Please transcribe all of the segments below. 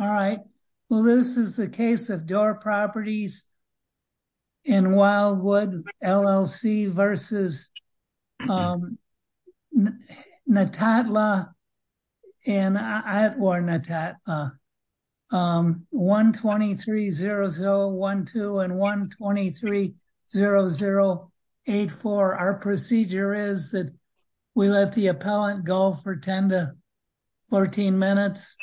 Alright, well, this is the case of Doar Properties in Wildwood, LLC v. Natatla and Atwar Natatla, 123-0012 and 123-0084. Our procedure is that we let the appellant go for 10 to 14 minutes.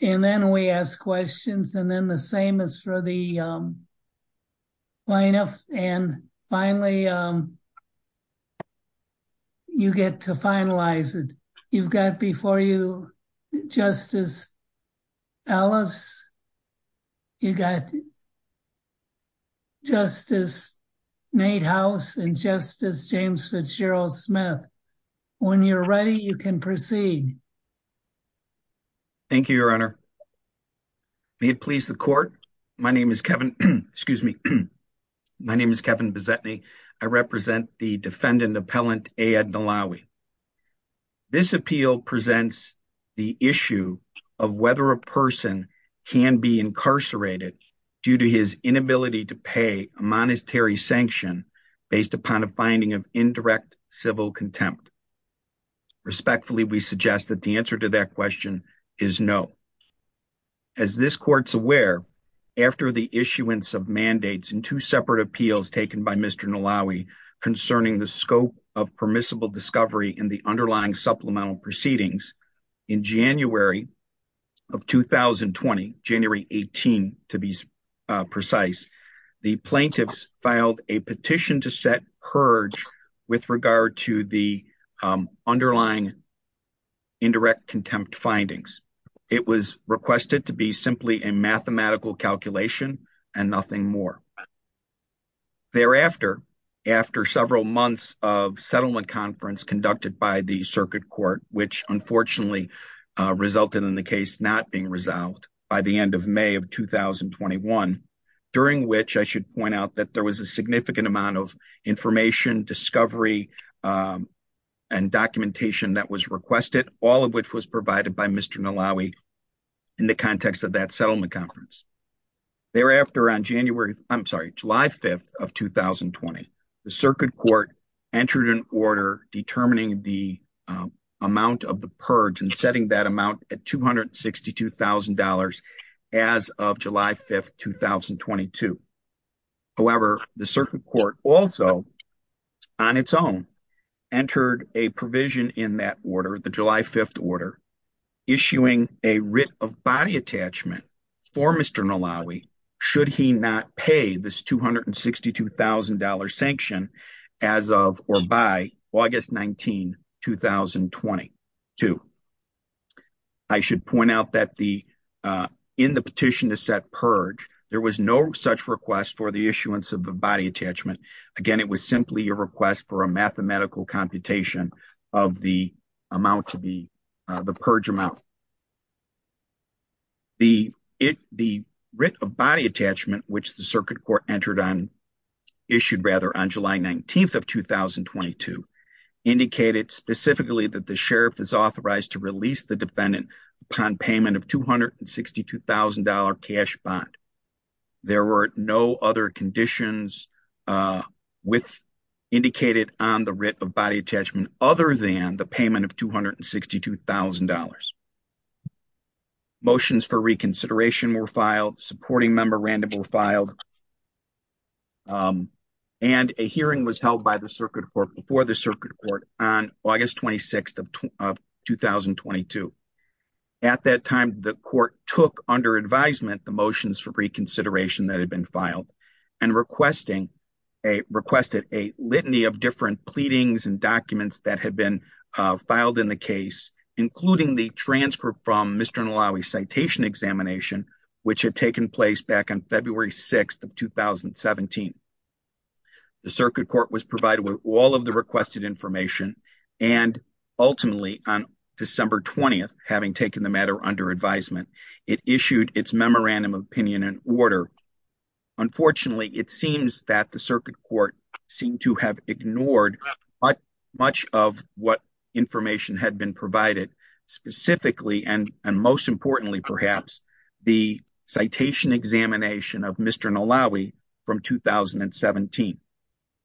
And then we ask questions and then the same as for the lineup. And finally, you get to finalize it. You've got before you Justice Ellis, you got Justice Nate House and Justice James Fitzgerald Smith. When you're ready, you can proceed. Thank you, Your Honor. May it please the court. My name is Kevin. Excuse me. My name is Kevin Bezetny. I represent the defendant appellant A. Ed Nahlawi. This appeal presents the issue of whether a person can be incarcerated due to his inability to pay a monetary sanction based upon a finding of indirect civil contempt. Respectfully, we suggest that the answer to that question is no. As this court's aware, after the issuance of mandates in two separate appeals taken by Mr. Nahlawi concerning the scope of permissible discovery in the underlying supplemental proceedings in January of 2020, January 18, to be precise, the plaintiffs filed a petition to set purge with regard to the underlying indirect contempt findings. It was requested to be simply a mathematical calculation and nothing more. Thereafter, after several months of settlement conference conducted by the circuit court, which unfortunately resulted in the case not being resolved by the end of May of 2021, during which I should point out that there was a significant amount of information, discovery and documentation that was requested, all of which was provided by Mr. Nahlawi in the context of that settlement conference. Thereafter, on July 5th of 2020, the circuit court entered an order determining the amount of the purge and setting that amount at $262,000 as of July 5th, 2022. However, the circuit court also, on its own, entered a provision in that order, the July 5th order, issuing a writ of body attachment for Mr. Nahlawi should he not pay this $262,000 sanction as of or by August 19, 2022. I should point out that in the petition to set purge, there was no such request for the issuance of the body attachment. Again, it was simply a request for a mathematical computation of the amount to be the purge amount. The writ of body attachment, which the circuit court entered on, issued rather on July 19th of 2022, indicated specifically that the sheriff is authorized to release the defendant upon payment of $262,000 cash bond. There were no other conditions indicated on the writ of body attachment other than the payment of $262,000. Motions for reconsideration were filed, supporting member random were filed, and a hearing was held by the circuit court before the circuit court on August 26th of 2022. At that time, the court took under advisement the motions for reconsideration that had been filed and requested a litany of different pleadings and documents that had been filed in the case, including the transcript from Mr. Nahlawi's citation examination, which had taken place back on February 6th of 2017. The circuit court was provided with all of the requested information, and ultimately, on December 20th, having taken the matter under advisement, it issued its memorandum of opinion and order. Unfortunately, it seems that the circuit court seemed to have ignored much of what information had been provided, specifically, and most importantly, perhaps, the citation examination of Mr. Nahlawi from 2017.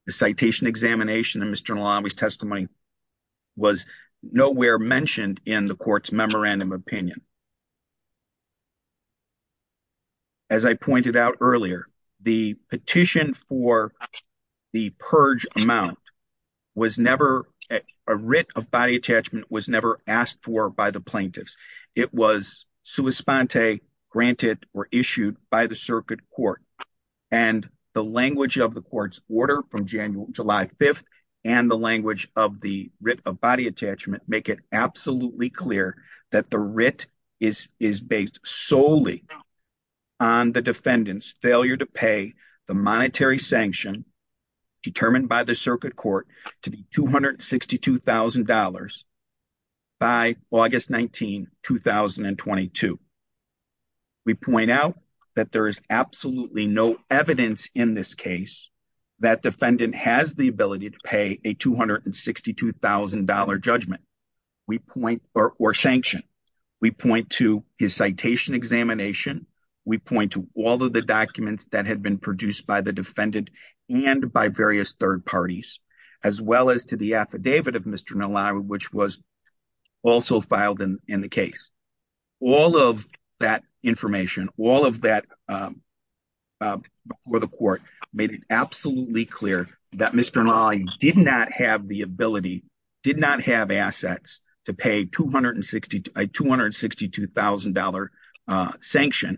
The citation examination of Mr. Nahlawi's testimony was nowhere mentioned in the court's memorandum of opinion. As I pointed out earlier, the petition for the purge amount was never, a writ of body attachment was never asked for by the plaintiffs. It was sua sponte, granted or issued by the circuit court, and the language of the court's order from July 5th and the language of the writ of body attachment make it absolutely clear that the writ is based solely on the defendant's failure to pay the monetary sanction determined by the circuit court to be $262,000. By August 19, 2022. We point out that there is absolutely no evidence in this case that defendant has the ability to pay a $262,000 judgment or sanction. We point to his citation examination. We point to all of the documents that had been produced by the defendant and by various third parties, as well as to the affidavit of Mr. Nahlawi, which was also filed in the case. All of that information, all of that before the court made it absolutely clear that Mr. Nahlawi did not have the ability, did not have assets to pay $262,000 sanction.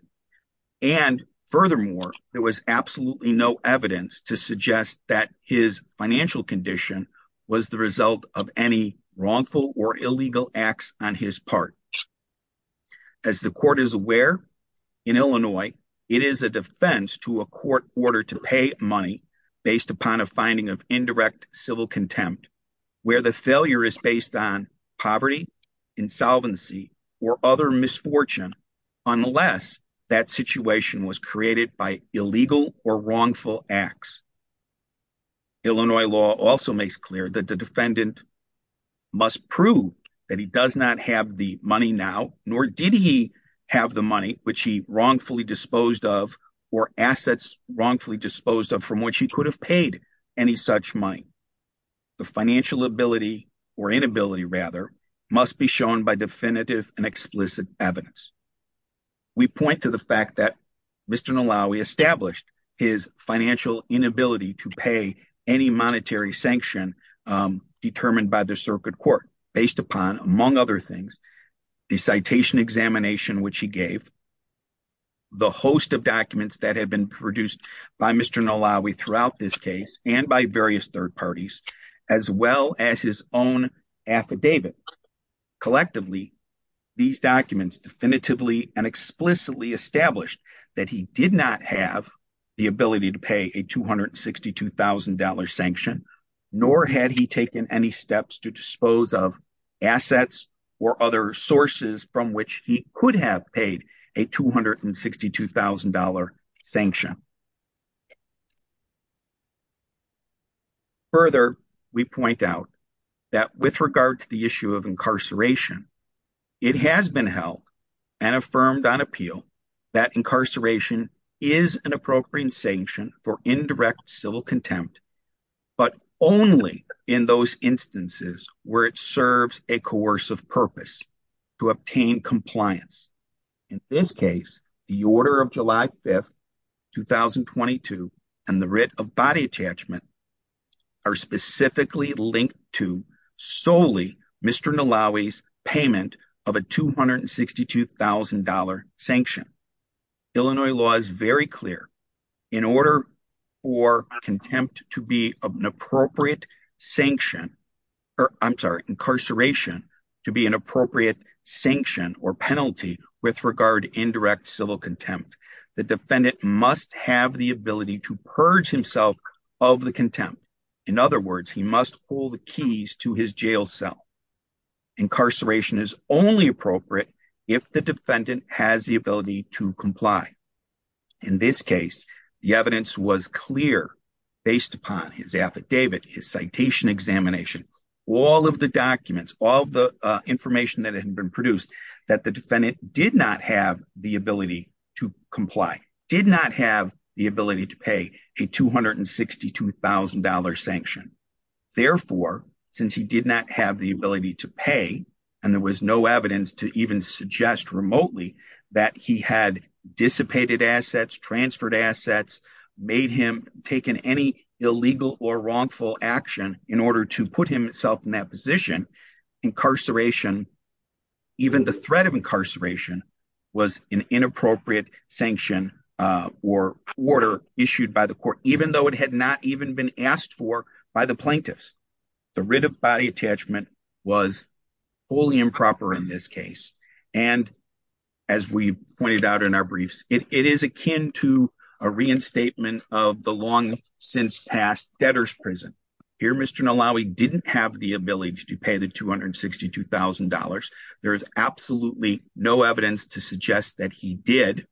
And furthermore, there was absolutely no evidence to suggest that his financial condition was the result of any wrongful or illegal acts on his part. As the court is aware, in Illinois, it is a defense to a court order to pay money based upon a finding of indirect civil contempt, where the failure is based on poverty, insolvency, or other misfortune, unless that situation was created by illegal or wrongful acts. Illinois law also makes clear that the defendant must prove that he does not have the money now, nor did he have the money, which he wrongfully disposed of, or assets wrongfully disposed of from which he could have paid any such money. The financial ability, or inability rather, must be shown by definitive and explicit evidence. We point to the fact that Mr. Nahlawi established his financial inability to pay any monetary sanction determined by the circuit court based upon, among other things, the citation examination which he gave, the host of documents that had been produced by Mr. Nahlawi throughout this case, and by various third parties, as well as his own affidavit. Collectively, these documents definitively and explicitly established that he did not have the ability to pay a $262,000 sanction, nor had he taken any steps to dispose of assets or other sources from which he could have paid a $262,000 sanction. Further, we point out that with regard to the issue of incarceration, it has been held and affirmed on appeal that incarceration is an appropriate sanction for indirect civil contempt, but only in those instances where it serves a coercive purpose to obtain compliance. In this case, the order of July 5, 2022, and the writ of body attachment are specifically linked to solely Mr. Nahlawi's payment of a $262,000 sanction. Illinois law is very clear. In order for contempt to be an appropriate sanction, or I'm sorry, incarceration to be an appropriate sanction or penalty with regard to indirect civil contempt, the defendant must have the ability to purge himself of the contempt. In other words, he must pull the keys to his jail cell. Incarceration is only appropriate if the defendant has the ability to comply. In this case, the evidence was clear based upon his affidavit, his citation examination, all of the documents, all the information that had been produced that the defendant did not have the ability to comply, did not have the ability to pay a $262,000 sanction. Therefore, since he did not have the ability to pay, and there was no evidence to even suggest remotely that he had dissipated assets, transferred assets, made him take in any illegal or wrongful action in order to put himself in that position, incarceration, even the threat of incarceration, was an inappropriate sanction or order issued by the court, even though it had not even been asked for by the plaintiffs. The writ of body attachment was fully improper in this case. And as we pointed out in our briefs, it is akin to a reinstatement of the long since past debtors prison. Here, Mr. Nalawi didn't have the ability to pay the $262,000. There is absolutely no evidence to suggest that he did.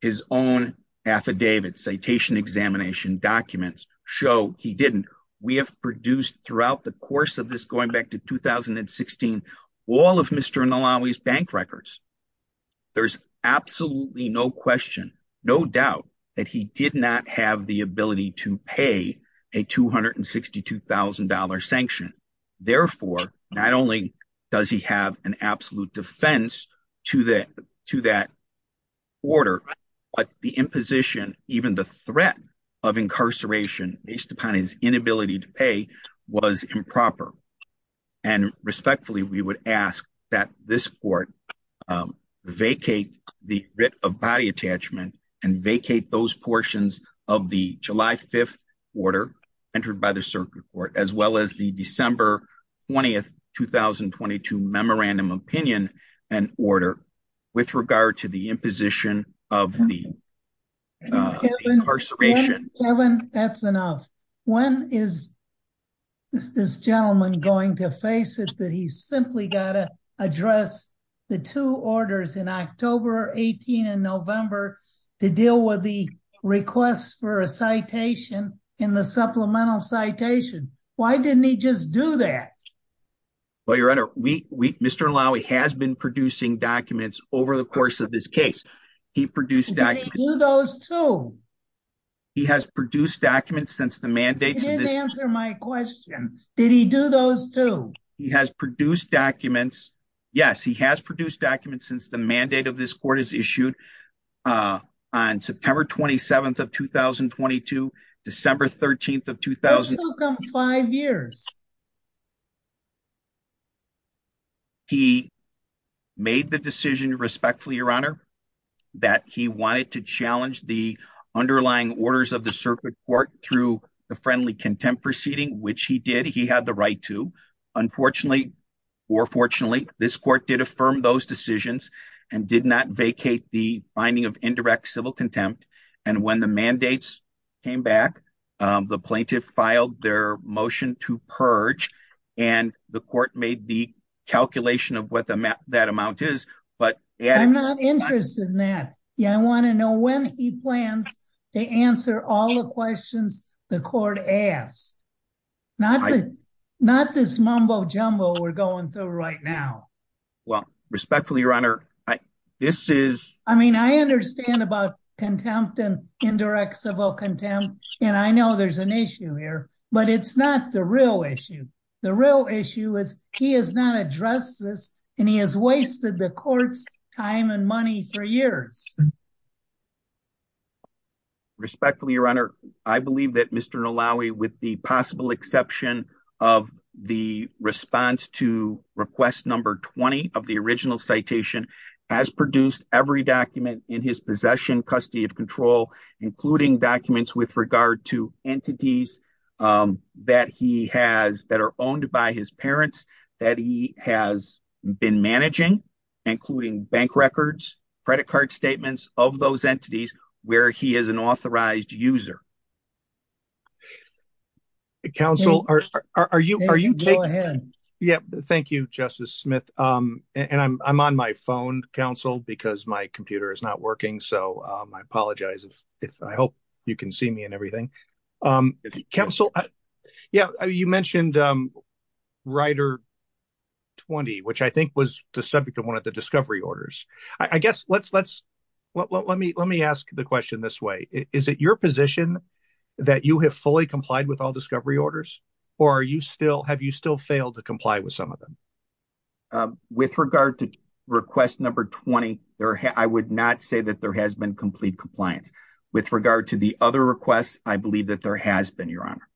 His own affidavit, citation examination documents show he didn't. We have produced throughout the course of this going back to 2016, all of Mr. Nalawi's bank records. There's absolutely no question, no doubt that he did not have the ability to pay a $262,000 sanction. Therefore, not only does he have an absolute defense to that order, but the imposition, even the threat of incarceration based upon his inability to pay was improper. And respectfully, we would ask that this court vacate the writ of body attachment and vacate those portions of the July 5th order entered by the circuit court, as well as the December 20th, 2022 memorandum opinion and order with regard to the imposition of the incarceration. That's enough. When is. This gentleman going to face it that he's simply got to address the 2 orders in October 18 in November to deal with the request for a citation in the supplemental citation. Why didn't he just do that? Well, your honor, we Mr. Nalawi has been producing documents over the course of this case. He produced those 2. He has produced documents since the mandate to answer my question. Did he do those 2? He has produced documents. Yes, he has produced documents since the mandate of this court is issued on September 27th of 2022, December 13th of 2000, 5 years. He made the decision respectfully your honor that he wanted to challenge the underlying orders of the circuit court through the friendly contempt proceeding, which he did. Unfortunately, he had the right to. Unfortunately, or fortunately, this court did affirm those decisions and did not vacate the finding of indirect civil contempt. And when the mandates came back, the plaintiff filed their motion to purge and the court made the calculation of what that amount is. But I'm not interested in that. Yeah, I want to know when he plans to answer all the questions the court asked. Not not this mumbo jumbo we're going through right now. Well, respectfully, your honor this is I mean, I understand about contempt and indirect civil contempt and I know there's an issue here, but it's not the real issue. The real issue is he has not addressed this and he has wasted the court's time and money for years. Respectfully, your honor, I believe that Mr allow me with the possible exception of the response to request number 20 of the original citation has produced every document in his possession custody of control, including documents with regard to entities that he has that are owned by his parents that he has been managing, including bank records, credit card statements of those entities where he is an authorized user. Council, are you are you go ahead. Yeah, thank you, Justice Smith, and I'm on my phone council because my computer is not working so I apologize if if I hope you can see me and everything. Council. Yeah, you mentioned writer 20, which I think was the subject of one of the discovery orders. I guess let's let's let me let me ask the question this way. Is it your position that you have fully complied with all discovery orders, or are you still have you still failed to comply with some of them. With regard to request number 20 there I would not say that there has been complete compliance with regard to the other requests, I believe that there has been your honor.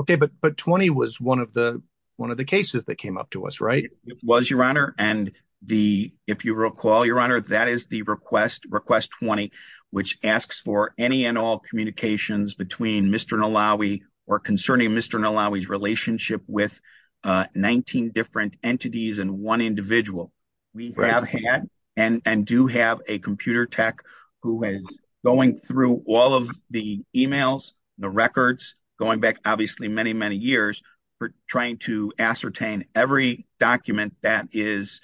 Okay, but but 20 was one of the one of the cases that came up to us right was your honor and the if you recall your honor that is the request request 20, which asks for any and all communications between Mr. Nalawi or concerning Mr Nalawi relationship with 19 different entities and one individual. We have had, and do have a computer tech, who is going through all of the emails, the records, going back obviously many many years for trying to ascertain every document that is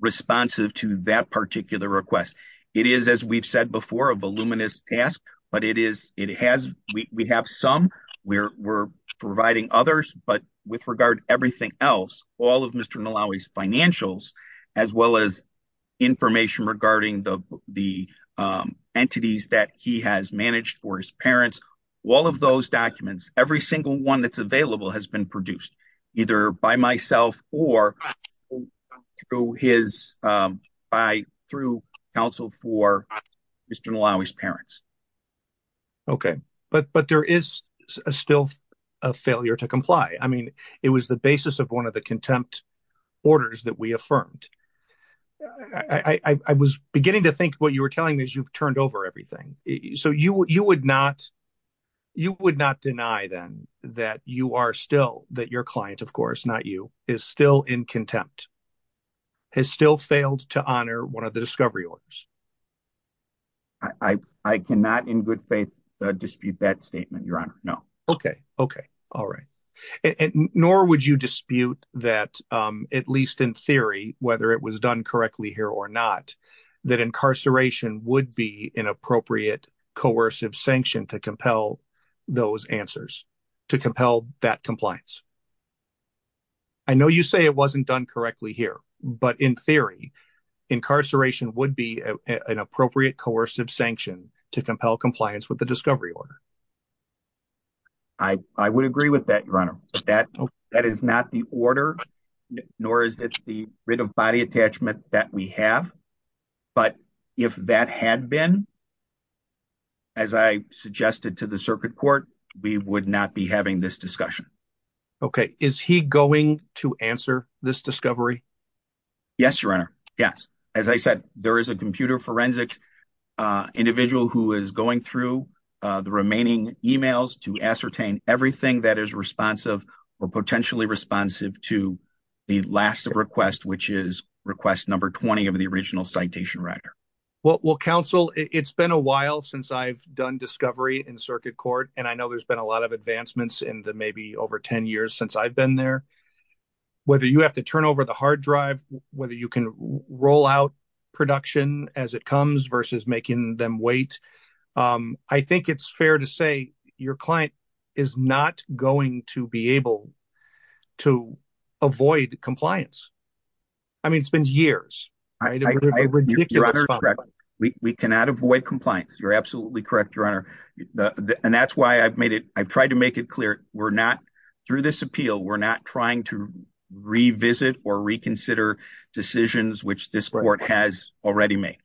responsive to that particular request. It is as we've said before a voluminous task, but it is, it has, we have some, we're providing others, but with regard, everything else, all of Mr Nalawi's financials, as well as information regarding the, the entities that he has managed for his parents. All of those documents, every single one that's available has been produced, either by myself, or through his by through counsel for Mr Nalawi's parents. Okay, but but there is a still a failure to comply. I mean, it was the basis of one of the contempt orders that we affirmed. I was beginning to think what you were telling me is you've turned over everything. So you, you would not. You would not deny them that you are still that your client of course not you is still in contempt has still failed to honor one of the discovery orders. I cannot in good faith dispute that statement, Your Honor. No. Okay. Okay. All right. Nor would you dispute that, at least in theory, whether it was done correctly here or not, that incarceration would be an appropriate coercive sanction to compel those answers to compel that compliance. I know you say it wasn't done correctly here, but in theory, incarceration would be an appropriate coercive sanction to compel compliance with the discovery order. I would agree with that, Your Honor, that that is not the order, nor is it the writ of body attachment that we have. But if that had been, as I suggested to the circuit court, we would not be having this discussion. Okay. Is he going to answer this discovery? Yes, Your Honor. Yes. As I said, there is a computer forensics individual who is going through the remaining emails to ascertain everything that is responsive or potentially responsive to the last request, which is request number 20 of the original citation writer. Well, counsel, it's been a while since I've done discovery in circuit court, and I know there's been a lot of advancements in the maybe over 10 years since I've been there. Whether you have to turn over the hard drive, whether you can roll out production as it comes versus making them wait. I think it's fair to say your client is not going to be able to avoid compliance. I mean, it's been years. We cannot avoid compliance. You're absolutely correct, Your Honor. And that's why I've made it. I've tried to make it clear. We're not through this appeal. We're not trying to revisit or reconsider decisions, which this court has already made.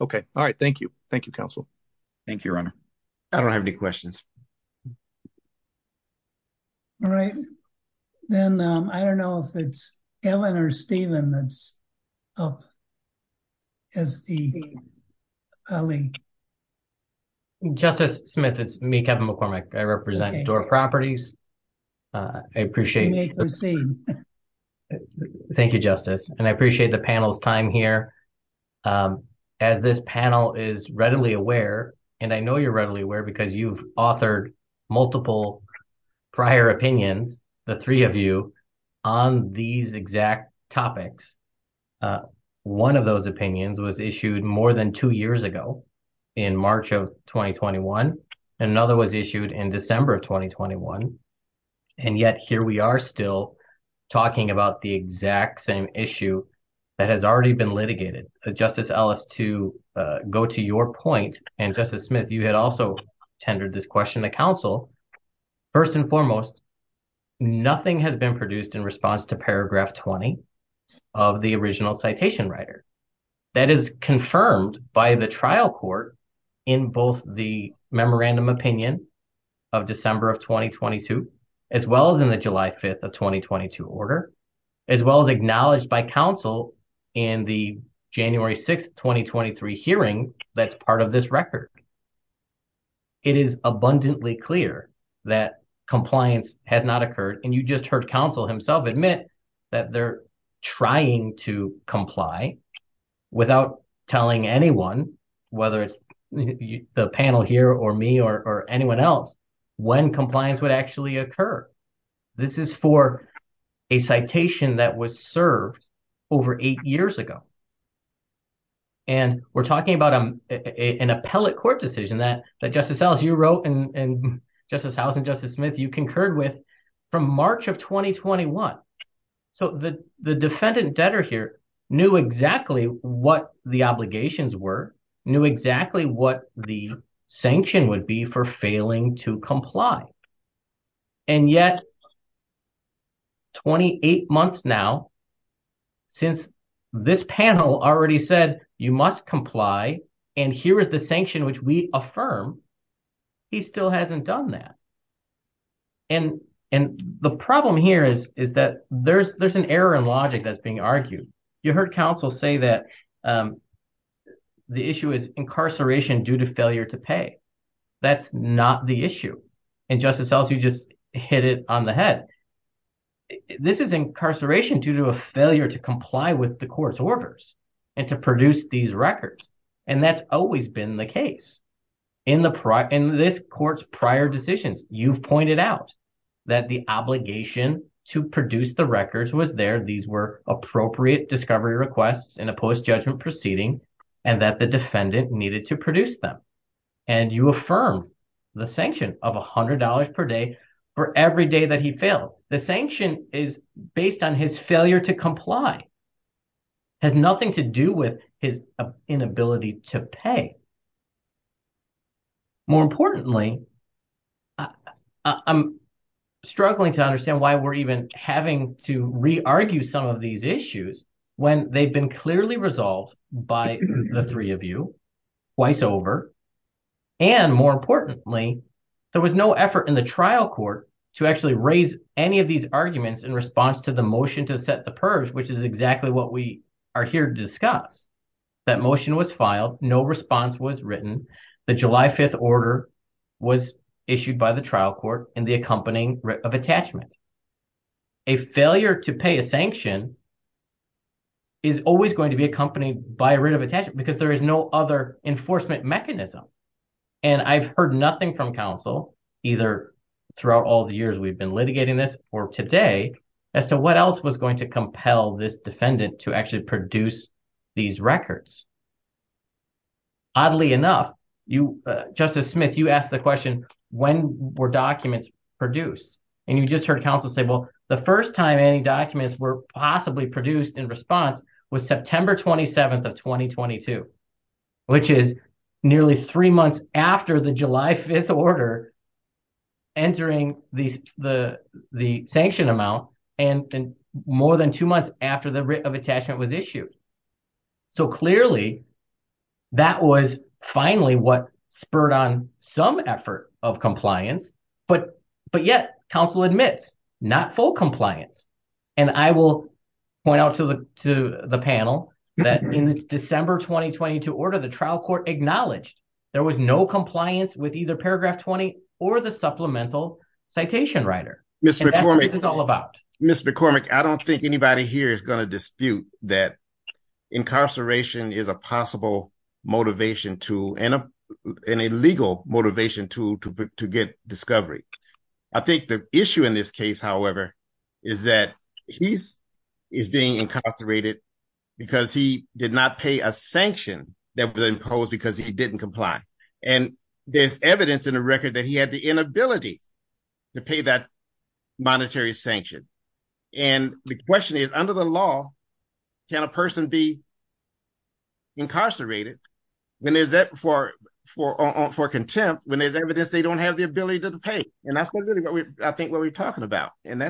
Okay. All right. Thank you. Thank you, counsel. Thank you, Your Honor. I don't have any questions. All right. Then I don't know if it's Ellen or Stephen that's up. As the. Justice Smith, it's me, Kevin McCormick. I represent door properties. I appreciate it. Thank you, Justice, and I appreciate the panel's time here. As this panel is readily aware, and I know you're readily aware because you've authored multiple prior opinions, the three of you on these exact topics. One of those opinions was issued more than two years ago in March of 2021. Another was issued in December of 2021. And yet here we are still talking about the exact same issue that has already been litigated. Justice Ellis, to go to your point, and Justice Smith, you had also tendered this question to counsel. First and foremost, nothing has been produced in response to paragraph 20 of the original citation writer. That is confirmed by the trial court in both the memorandum opinion of December of 2022, as well as in the July 5th of 2022 order, as well as acknowledged by counsel in the January 6th, 2023 hearing that's part of this record. It is abundantly clear that compliance has not occurred. And you just heard counsel himself admit that they're trying to comply without telling anyone, whether it's the panel here or me or anyone else, when compliance would actually occur. This is for a citation that was served over eight years ago. And we're talking about an appellate court decision that Justice Ellis, you wrote and Justice House and Justice Smith, you concurred with from March of 2021. So the defendant debtor here knew exactly what the obligations were, knew exactly what the sanction would be for failing to comply. And yet, 28 months now, since this panel already said you must comply, and here is the sanction which we affirm, he still hasn't done that. And the problem here is that there's an error in logic that's being argued. You heard counsel say that the issue is incarceration due to failure to pay. That's not the issue. And Justice Ellis, you just hit it on the head. This is incarceration due to a failure to comply with the court's orders and to produce these records. And that's always been the case. In this court's prior decisions, you've pointed out that the obligation to produce the records was there. These were appropriate discovery requests in a post-judgment proceeding and that the defendant needed to produce them. And you affirm the sanction of $100 per day for every day that he failed. The sanction is based on his failure to comply, has nothing to do with his inability to pay. More importantly, I'm struggling to understand why we're even having to re-argue some of these issues when they've been clearly resolved by the three of you twice over. And more importantly, there was no effort in the trial court to actually raise any of these arguments in response to the motion to set the purge, which is exactly what we are here to discuss. That motion was filed. No response was written. The July 5th order was issued by the trial court in the accompanying writ of attachment. A failure to pay a sanction is always going to be accompanied by a writ of attachment because there is no other enforcement mechanism. And I've heard nothing from counsel, either throughout all the years we've been litigating this or today, as to what else was going to compel this defendant to actually produce these records. Oddly enough, Justice Smith, you asked the question, when were documents produced? And you just heard counsel say, well, the first time any documents were possibly produced in response was September 27th of 2022, which is nearly three months after the July 5th order entering the sanction amount and more than two months after the writ of attachment was issued. So clearly, that was finally what spurred on some effort of compliance. But yet, counsel admits, not full compliance. And I will point out to the panel that in December 2022 order, the trial court acknowledged there was no compliance with either paragraph 20 or the supplemental citation writer. And that's what this is all about. Mr. McCormick, I don't think anybody here is going to dispute that incarceration is a possible motivation tool and a legal motivation tool to get discovery. I think the issue in this case, however, is that he is being incarcerated because he did not pay a sanction that was imposed because he didn't comply. And there's evidence in the record that he had the inability to pay that monetary sanction. And the question is, under the law, can a person be incarcerated for contempt when there's evidence they don't have the ability to pay? And that's really, I think, what we're talking about. In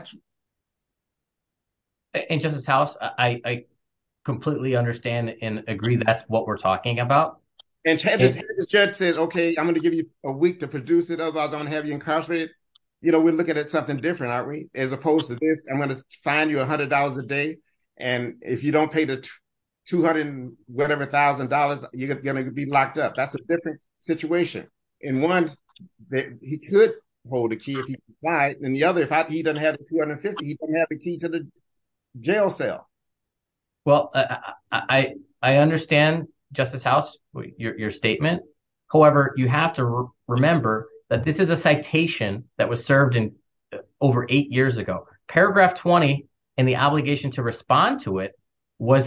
Justice House, I completely understand and agree that's what we're talking about. And Chad said, OK, I'm going to give you a week to produce it, otherwise I'm going to have you incarcerated. You know, we're looking at something different, aren't we? As opposed to this, I'm going to fine you $100 a day. And if you don't pay the $200-whatever-thousand, you're going to be locked up. That's a different situation. In one, he could hold a key if he complied. In the other, if he doesn't have the $250, he doesn't have the key to the jail cell. Well, I understand, Justice House, your statement. However, you have to remember that this is a citation that was served over eight years ago. Paragraph 20 and the obligation to respond to it was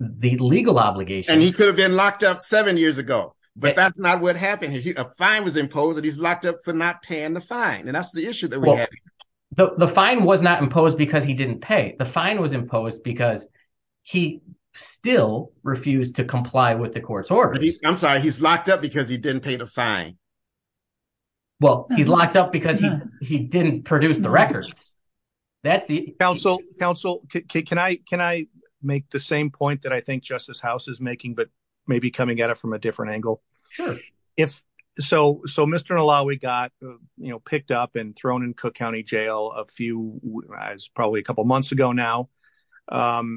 the legal obligation. And he could have been locked up seven years ago. But that's not what happened. A fine was imposed and he's locked up for not paying the fine. And that's the issue that we have. The fine was not imposed because he didn't pay. The fine was imposed because he still refused to comply with the court's orders. I'm sorry, he's locked up because he didn't pay the fine. Well, he's locked up because he didn't produce the records. Counsel, can I make the same point that I think Justice House is making, but maybe coming at it from a different angle? So Mr. Nalawi got picked up and thrown in Cook County Jail a few probably a couple of months ago now.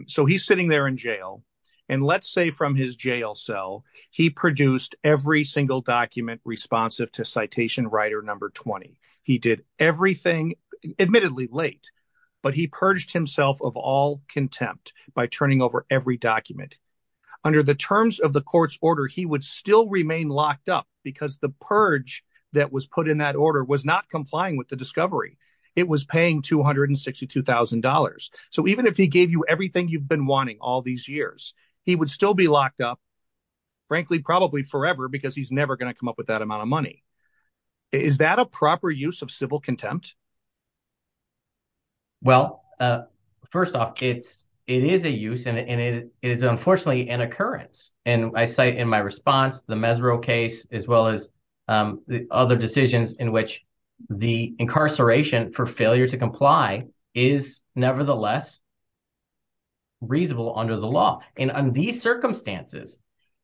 So he's sitting there in jail. And let's say from his jail cell, he produced every single document responsive to citation writer number 20. He did everything, admittedly late, but he purged himself of all contempt by turning over every document. Under the terms of the court's order, he would still remain locked up because the purge that was put in that order was not complying with the discovery. It was paying $262,000. So even if he gave you everything you've been wanting all these years, he would still be locked up, frankly, probably forever because he's never going to come up with that amount of money. Is that a proper use of civil contempt? Well, first off, it is a use and it is unfortunately an occurrence. And I say in my response, the Mesro case, as well as the other decisions in which the incarceration for failure to comply is nevertheless reasonable under the law. And under these circumstances,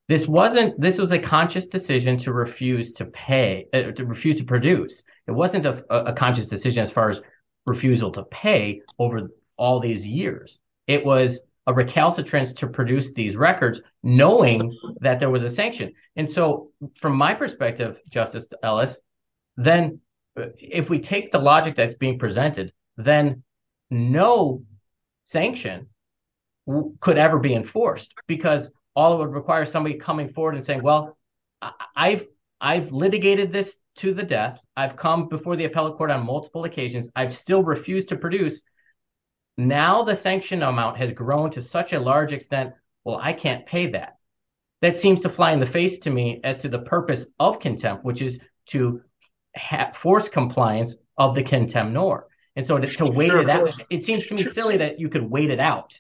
this wasn't this was a conscious decision to refuse to pay, to refuse to produce. It wasn't a conscious decision as far as refusal to pay over all these years. It was a recalcitrance to produce these records, knowing that there was a sanction. And so from my perspective, Justice Ellis, then if we take the logic that's being presented, then no sanction could ever be enforced because all it would require somebody coming forward and saying, well, I've litigated this to the death. I've come before the appellate court on multiple occasions. I've still refused to produce. Now the sanction amount has grown to such a large extent. Well, I can't pay that. That seems to fly in the face to me as to the purpose of contempt, which is to have forced compliance of the contempt nor. And so to weigh that, it seems to me silly that you could wait it out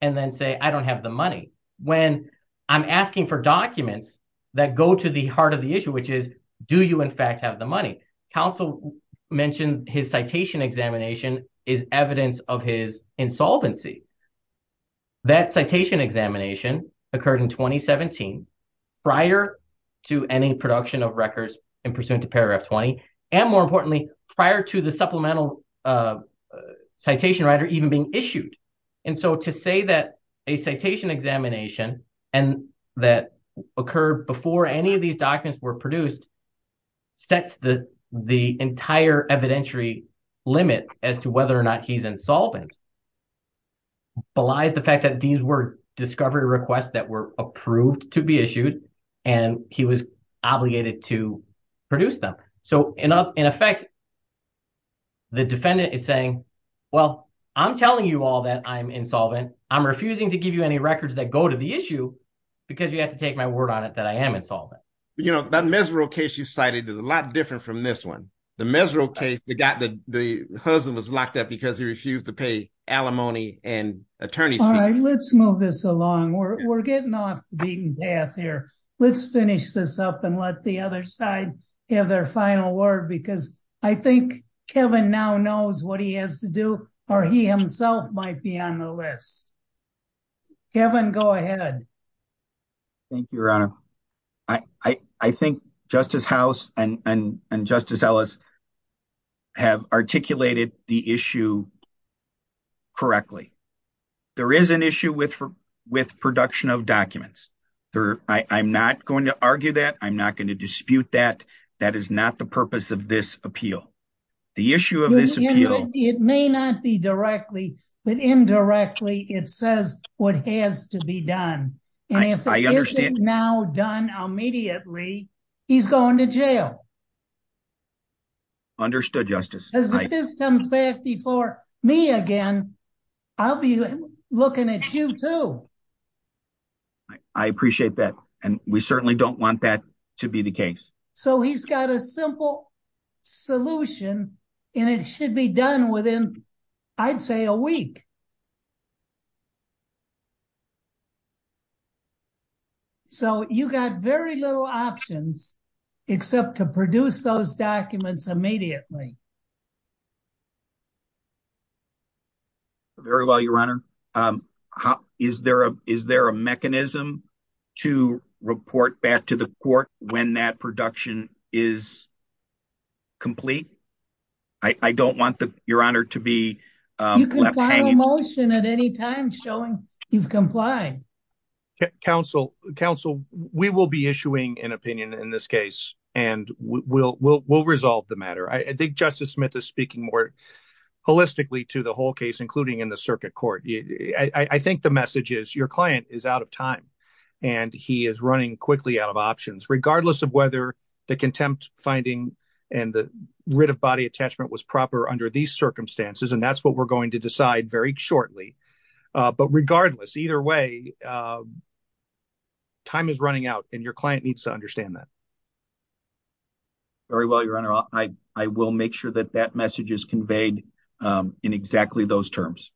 and then say, I don't have the money. When I'm asking for documents that go to the heart of the issue, which is, do you in fact have the money? Counsel mentioned his citation examination is evidence of his insolvency. That citation examination occurred in 2017 prior to any production of records in pursuant to paragraph 20. And more importantly, prior to the supplemental citation writer even being issued. And so to say that a citation examination and that occurred before any of these documents were produced. That's the the entire evidentiary limit as to whether or not he's insolvent. Belies the fact that these were discovery requests that were approved to be issued and he was obligated to produce them. So in effect. The defendant is saying, well, I'm telling you all that I'm insolvent. I'm refusing to give you any records that go to the issue because you have to take my word on it that I am insolvent. You know, that miserable case you cited is a lot different from this one. The miserable case that got the husband was locked up because he refused to pay alimony and attorneys. Let's move this along. We're getting off the beaten path here. Let's finish this up and let the other side have their final word, because I think Kevin now knows what he has to do or he himself might be on the list. Kevin, go ahead. Thank you, Your Honor. I think Justice House and Justice Ellis. Have articulated the issue. Correctly, there is an issue with with production of documents. I'm not going to argue that I'm not going to dispute that. That is not the purpose of this appeal. The issue of this appeal, it may not be directly, but indirectly, it says what has to be done. And if I understand now done immediately, he's going to jail. Understood justice comes back before me again. I'll be looking at you too. I appreciate that. And we certainly don't want that to be the case. So he's got a simple solution and it should be done within, I'd say, a week. So you got very little options except to produce those documents immediately. Very well, Your Honor. Is there a is there a mechanism to report back to the court when that production is. Complete I don't want the Your Honor to be motion at any time showing you've complied. Counsel counsel, we will be issuing an opinion in this case and we'll we'll we'll resolve the matter. I think Justice Smith is speaking more holistically to the whole case, including in the circuit court. I think the message is your client is out of time and he is running quickly out of options, regardless of whether the contempt finding and the writ of body attachment was proper under these circumstances. And that's what we're going to decide very shortly. But regardless, either way. Time is running out and your client needs to understand that. Very well, Your Honor, I, I will make sure that that message is conveyed in exactly those terms.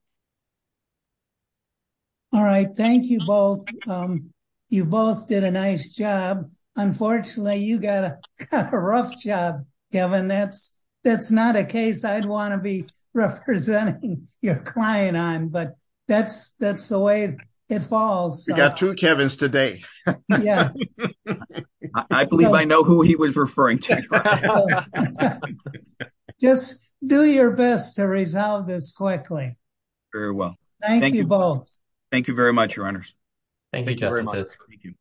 All right, thank you both. You both did a nice job. Unfortunately, you got a rough job, Kevin. That's that's not a case I'd want to be representing your client on. But that's that's the way it falls to Kevin's today. Yeah, I believe I know who he was referring to. Just do your best to resolve this quickly. Very well. Thank you both. Thank you very much. Your Honor. Thank you.